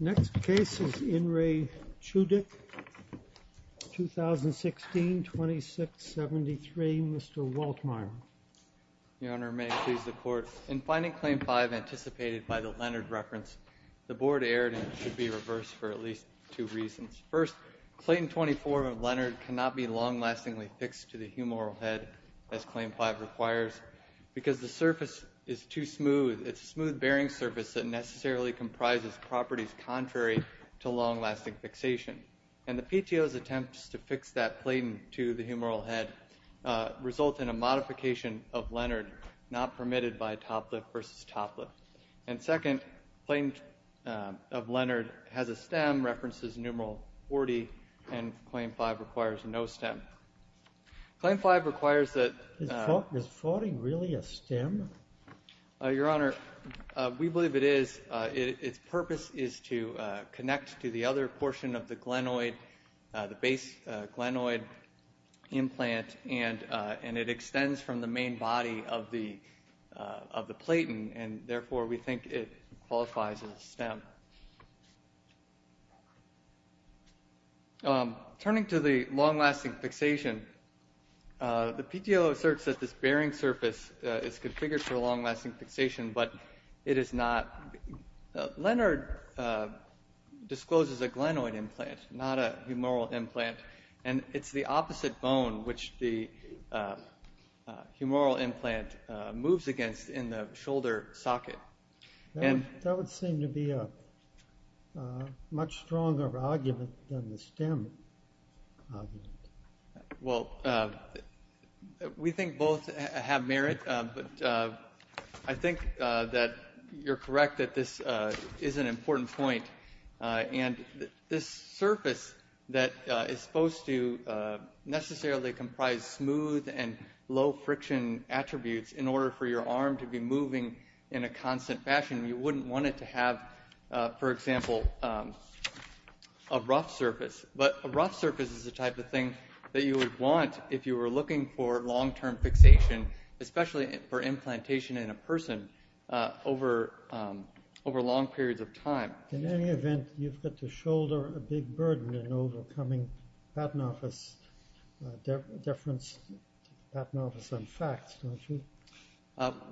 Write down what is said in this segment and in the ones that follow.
Next case is Inri Chudik. 2016 2673. Mr. Waltmeyer. Your Honor, may it please the court. In finding Claim 5 anticipated by the Leonard reference, the board erred and should be reversed for at least two reasons. First, Claim 24 of Leonard cannot be long-lastingly fixed to the humoral head as Claim 5 requires because the surface is too smooth. It's a smooth bearing surface that necessarily comprises properties contrary to long-lasting fixation. And the PTO's attempts to fix that platen to the humoral head result in a modification of Leonard not permitted by top lift versus top lift. And second, Platen of Leonard has a stem references numeral 40 and Claim 5 requires no stem. Claim 5 requires that... The purpose is to connect to the other portion of the glenoid, the base glenoid implant and it extends from the main body of the platen and therefore we think it qualifies as a stem. Turning to the long-lasting fixation, the PTO asserts that this bearing surface is configured for long-lasting fixation but it is not. Leonard discloses a glenoid implant, not a humoral implant and it's the opposite bone which the humoral implant moves against in the shoulder socket. And that would seem to be a much stronger argument than the stem. Well, we think both have merit but I think that you're correct that this is an important point. And this surface that is supposed to necessarily comprise smooth and low friction attributes in order for your arm to be moving in a rough surface is the type of thing that you would want if you were looking for long-term fixation, especially for implantation in a person over long periods of time. In any event, you've got to shoulder a big burden in overcoming platenophis, deference, platenophis and facts, don't you?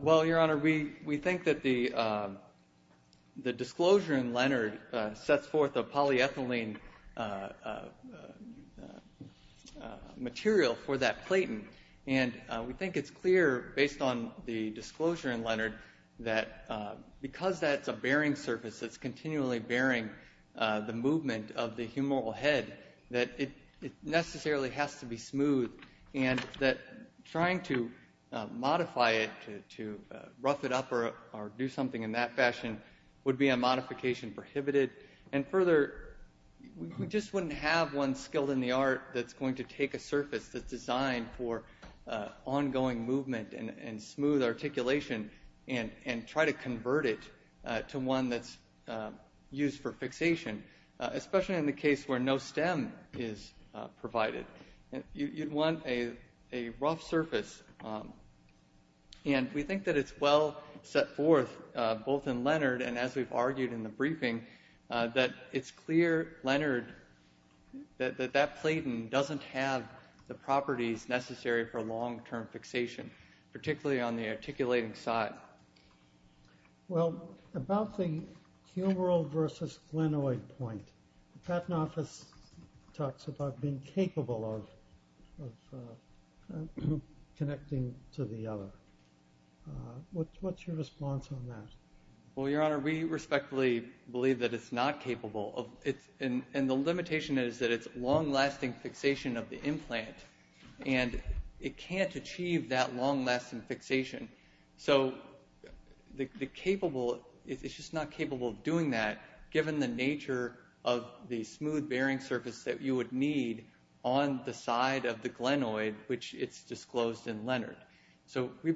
Well, Your Honor, we think that the material for that platen and we think it's clear based on the disclosure in Leonard that because that's a bearing surface that's continually bearing the movement of the humoral head that it necessarily has to be smooth and that trying to modify it to rough it up or do something in that fashion would be a unskilled in the art that's going to take a surface that's designed for ongoing movement and smooth articulation and try to convert it to one that's used for fixation, especially in the case where no stem is provided. You'd want a rough surface and we think that it's well set forth both in Leonard and as we've learned that that platen doesn't have the properties necessary for long-term fixation, particularly on the articulating side. Well, about the humoral versus glenoid point, platenophis talks about being capable of connecting to the other. What's your response on that? Well, Your Honor, we respectfully believe that it's not capable of it and the limitation is that it's long-lasting fixation of the implant and it can't achieve that long-lasting fixation. So, it's just not capable of doing that given the nature of the smooth bearing surface that you would need on the side of the glenoid, which it's disclosed in Leonard. So, we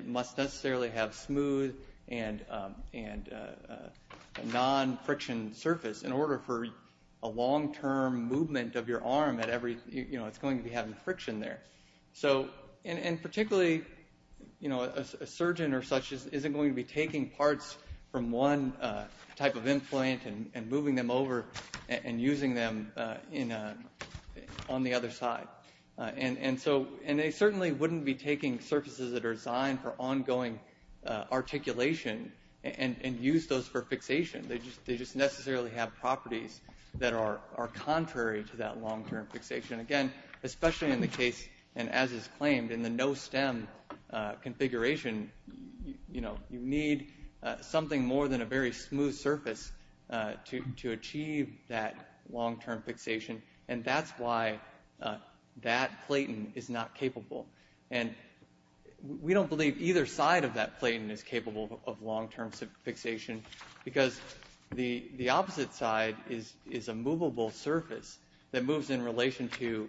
must necessarily have smooth and non-friction surface in order for a long-term movement of your arm at every, you know, it's going to be having friction there. So, and particularly, you know, a surgeon or such isn't going to be taking parts from one type of implant and moving them over and using them on the other side. And so, and they certainly wouldn't be taking surfaces that are designed for ongoing articulation and use those for fixation. They just necessarily have properties that are contrary to that long-term fixation. Again, especially in the case, and as is claimed, in the no-stem configuration, you know, you need something more than a very smooth surface to achieve that long-term fixation. And that's why that platen is not capable. And we don't believe either side of that platen is capable of long-term fixation because the opposite side is a movable surface that moves in relation to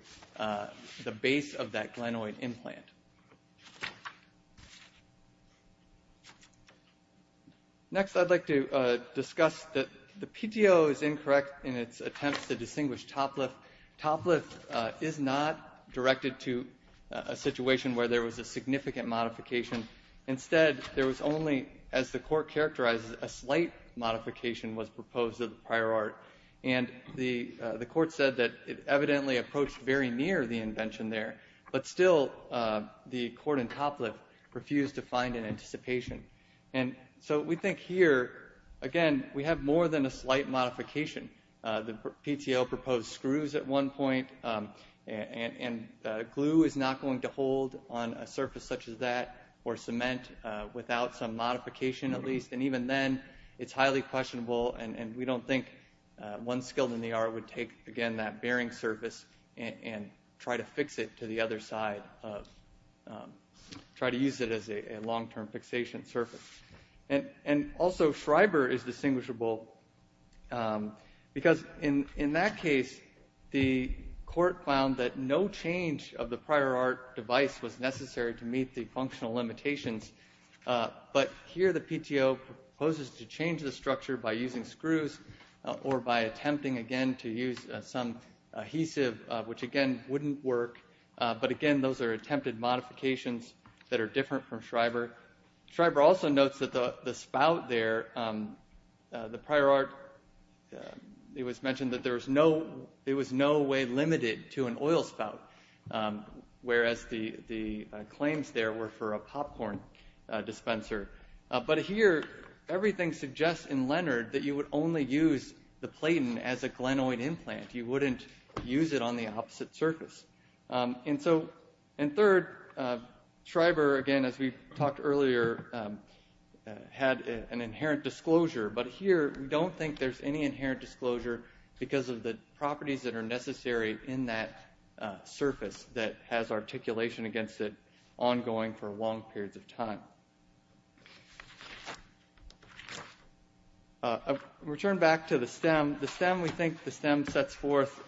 the base of that glenoid implant. Next, I'd like to discuss that the PTO is incorrect in its attempts to distinguish toplift. Toplift is not directed to a situation where there was a significant modification. Instead, there was only, as the court characterizes, a slight modification was proposed of the prior art. And the court said that it evidently approached very near the invention there. But still, the court in toplift refused to find an anticipation. And so we think here, again, we have more than a slight modification. The PTO proposed screws at one point, and glue is not going to hold on a surface such as that, or cement, without some modification at least. And even then, it's highly questionable, and we don't think one skilled in the art would take, again, that bearing surface and try to fix it to the other side, try to use it as a long-term fixation surface. And because in that case, the court found that no change of the prior art device was necessary to meet the functional limitations. But here, the PTO proposes to change the structure by using screws or by attempting, again, to use some adhesive, which, again, wouldn't work. But again, those are attempted modifications that are different from Schreiber. Schreiber also notes that the spout there, the prior art, it was mentioned that there was no way limited to an oil spout, whereas the claims there were for a popcorn dispenser. But here, everything suggests in Leonard that you would only use the platen as a glenoid implant. You wouldn't use it on the opposite surface. And so, and third, Schreiber, again, as we said, there's an inherent disclosure. But here, we don't think there's any inherent disclosure because of the properties that are necessary in that surface that has articulation against it ongoing for long periods of time. Return back to the stem. The stem, we think, the stem sets forth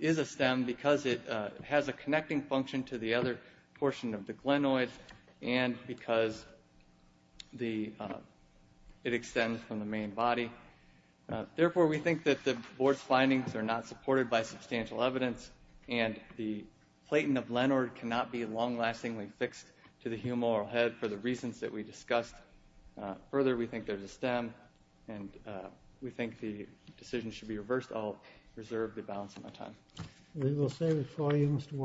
is a stem because it has a connecting function to the other portion of the glenoid and because it extends from the main body. Therefore, we think that the board's findings are not supported by substantial evidence and the platen of Leonard cannot be long-lastingly fixed to the humoral head for the reasons that we discussed. Further, we think there's a stem and we think the decision should be reversed. I'll reserve the balance of my time. We will save it for you, Mr.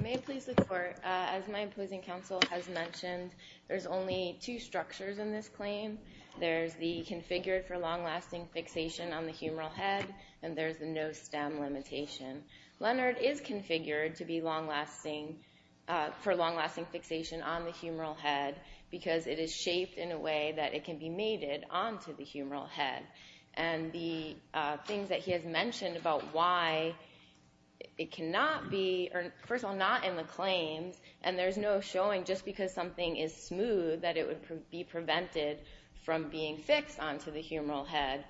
May it please the court, as my opposing counsel has mentioned, there's only two structures in this claim. There's the configured for long-lasting fixation on the humoral head and there's the no stem limitation. Leonard is configured to be long-lasting, for long-lasting fixation on the humoral head because it is shaped in a way that it can be mated onto the humoral head. And the things that he has about why it cannot be, or first of all, not in the claims and there's no showing just because something is smooth that it would be prevented from being fixed onto the humoral head,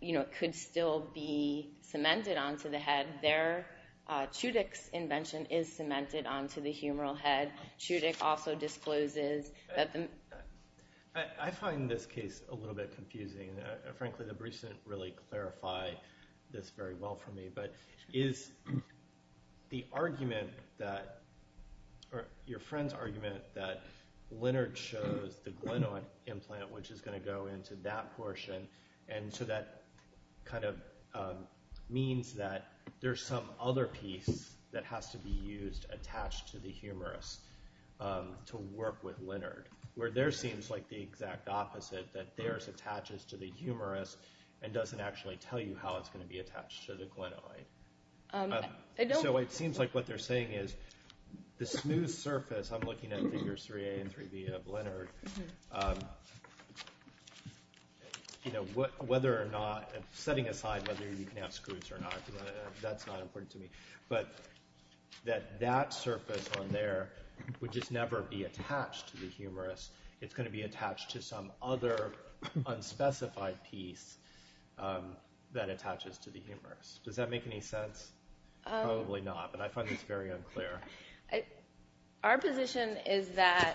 you know, it could still be cemented onto the head. Their Chudik's invention is cemented onto the humoral head. Chudik also discloses that the... I find this case a little bit confusing. Frankly, the briefs didn't really clarify this very well for me, but is the argument that, or your friend's argument, that Leonard chose the glenoid implant which is going to go into that portion and so that kind of means that there's some other piece that has to be used attached to the humerus to work with Leonard, where there seems like the exact opposite, that theirs attaches to the humerus and doesn't actually tell you how it's going to be attached to the glenoid. So it seems like what they're saying is the smooth surface, I'm looking at figures 3a and 3b of Leonard, you know, whether or not, setting aside whether you can have screws or not, that's not important to me, but that that surface on there would just never be attached to the humerus. It's going to be attached to some other unspecified piece that attaches to the humerus. Does that make any sense? Probably not, but I find this very unclear. Our position is that,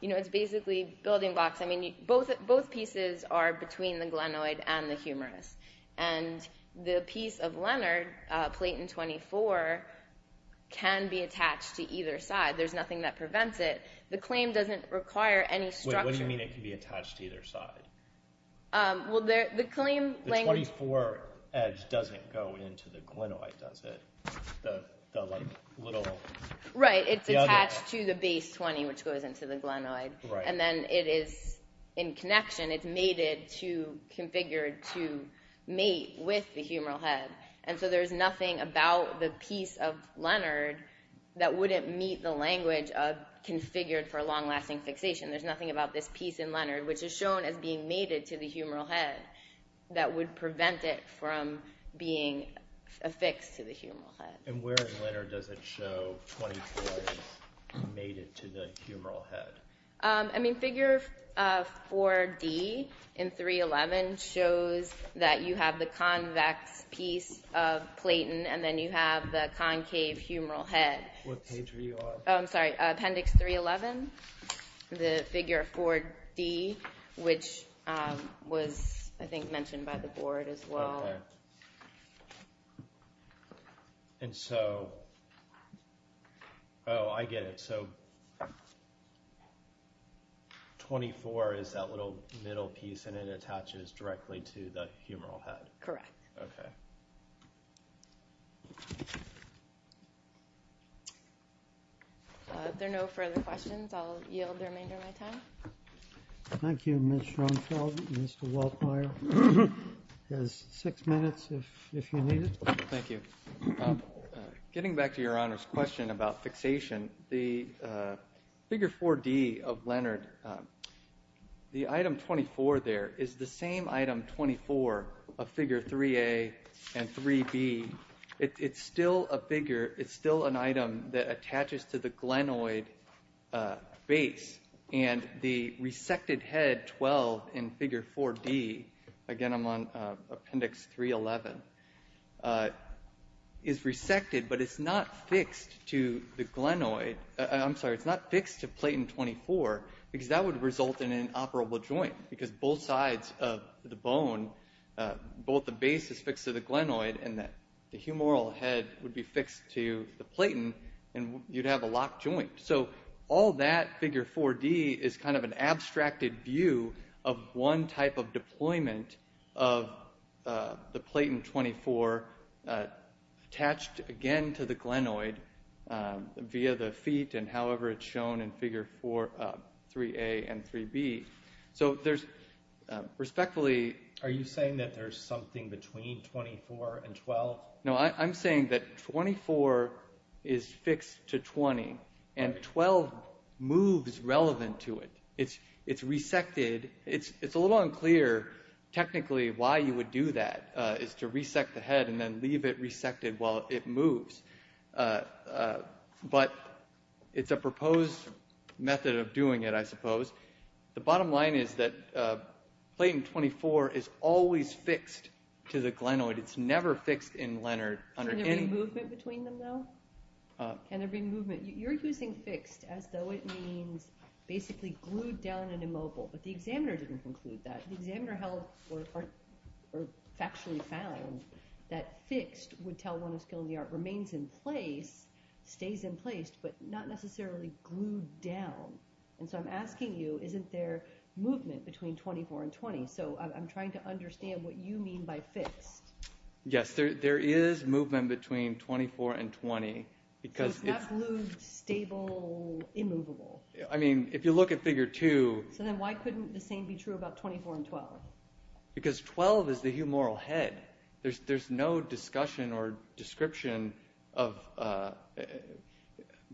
you know, it's basically building blocks. I mean, both pieces are between the glenoid and the humerus and the piece of Leonard, Platon 24, can be attached to and prevents it. The claim doesn't require any structure. Wait, what do you mean it can be attached to either side? Well, the claim... The 24 edge doesn't go into the glenoid, does it? The, like, little... Right, it's attached to the base 20, which goes into the glenoid. And then it is, in connection, it's mated to, configured to mate with the humeral head. And so there's nothing about the piece of Leonard that wouldn't meet the configured for long-lasting fixation. There's nothing about this piece in Leonard, which is shown as being mated to the humeral head, that would prevent it from being affixed to the humeral head. And where in Leonard does it show 24 is mated to the humeral head? I mean, figure 4D in 3.11 shows that you have the convex piece of Platon and then you have the concave humeral head. What page were you on? Oh, I'm sorry. Appendix 3.11. The figure 4D, which was, I think, mentioned by the board as well. Okay. And so... Oh, I get it. So... 24 is that little middle piece and it attaches directly to the humeral head. Correct. Okay. If there are no further questions, I'll yield the remainder of my time. Thank you, Ms. Schronfeld. Mr. Waldmeier has six minutes if you need it. Thank you. Getting back to Your Honor's question about fixation, the figure 4D of Leonard, the item 24 there is the same item 24 of figure 3A and 3B. It's still a figure, it's still an item that attaches to the glenoid base and the resected head 12 in figure 4D, again I'm on Appendix 3.11, is resected but it's not fixed to the glenoid. I'm sorry, it's not fixed to Platon 24 because that would result in an operable joint because both sides of the bone, both the base is fixed to the glenoid and the humeral head would be fixed to the Platon and you'd have a locked joint. So all that figure 4D is kind of an abstracted view of one type of deployment of the Platon 24 attached again to the glenoid via the feet and however it's shown in figure 3A and 3B. So there's respectfully... Are you saying that there's something between 24 and 12? No, I'm saying that 24 is fixed to 20 and 12 moves relevant to it. It's resected. It's a little unclear technically why you would do that is to resect the head and then leave it resected while it moves. But it's a proposed method of doing it, I suppose. The bottom line is that Platon 24 is always fixed to the glenoid. It's never fixed in Leonard. Can there be movement between them though? Can there be movement? You're using fixed as though it means basically glued down and immobile, but the examiner didn't include that. The examiner held or factually found that fixed would tell one a skill in the art, remains in place, stays in place, but not necessarily glued down. And so I'm asking you, isn't there movement between 24 and 20? So I'm trying to understand what you mean by fixed. Yes, there is movement between 24 and 20 because it's... So it's not glued, stable, immovable. I mean, if you look at figure 2... So then why couldn't the same be true about 24 and 12? Because 12 is the humoral head. There's no discussion or description of...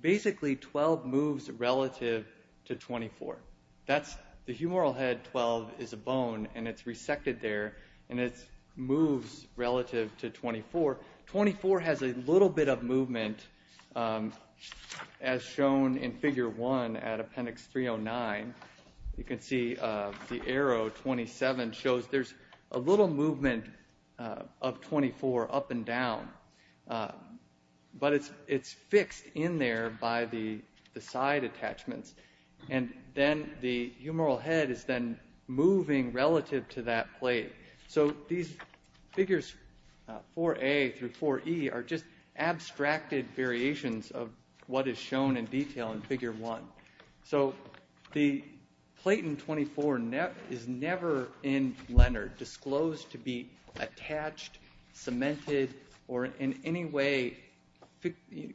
Basically, 12 moves relative to 24. The humoral head 12 is a bone and it's resected there and it moves relative to 24. 24 has a little bit of movement as shown in figure 1 at appendix 309. You can see the arrow 27 shows there's a little movement of 24 up and down, but it's fixed in there by the side attachments. And then the humoral head is then moving relative to that plate. So these figures 4A through 4E are just abstracted variations of what is shown in detail in figure 1. So the plate in 24 is never in Leonard, never disclosed to be attached, cemented, or in any way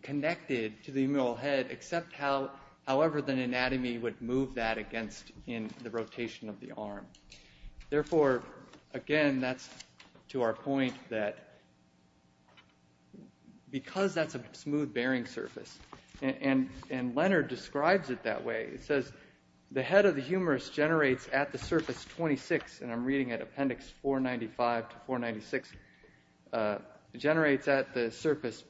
connected to the humoral head except however the anatomy would move that against the rotation of the arm. Therefore, again, that's to our point that because that's a smooth bearing surface, and Leonard describes it that way. He says, the head of the humorous generates at the surface 26, and I'm reading at appendix 495 to 496, generates at the surface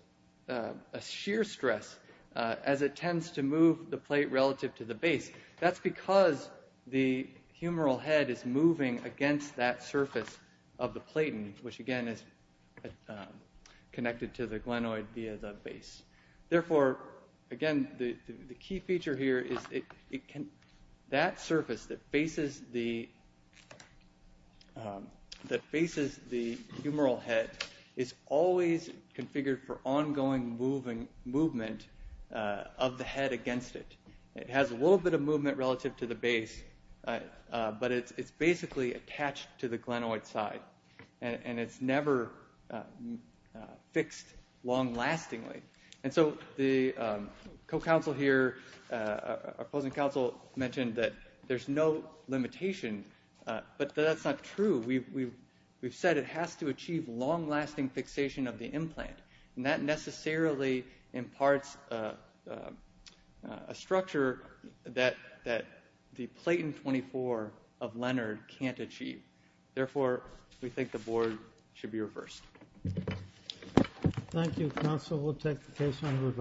a shear stress as it tends to move the plate relative to the base. That's because the humoral head is moving against that surface of the platen, which again is connected to the glenoid via the base. Therefore, again, the key feature here is that surface that faces the humoral head is always configured for ongoing movement of the head against it. It has a little bit of movement relative to the base, but it's basically attached to the glenoid side, and it's never fixed long-lastingly. The co-counsel here, opposing counsel, mentioned that there's no limitation, but that's not true. We've said it has to achieve long-lasting fixation of the implant, and that necessarily imparts a structure that the platen 24 of Leonard can't achieve. Therefore, we think the board should be reversed. Thank you, counsel. We'll take the case.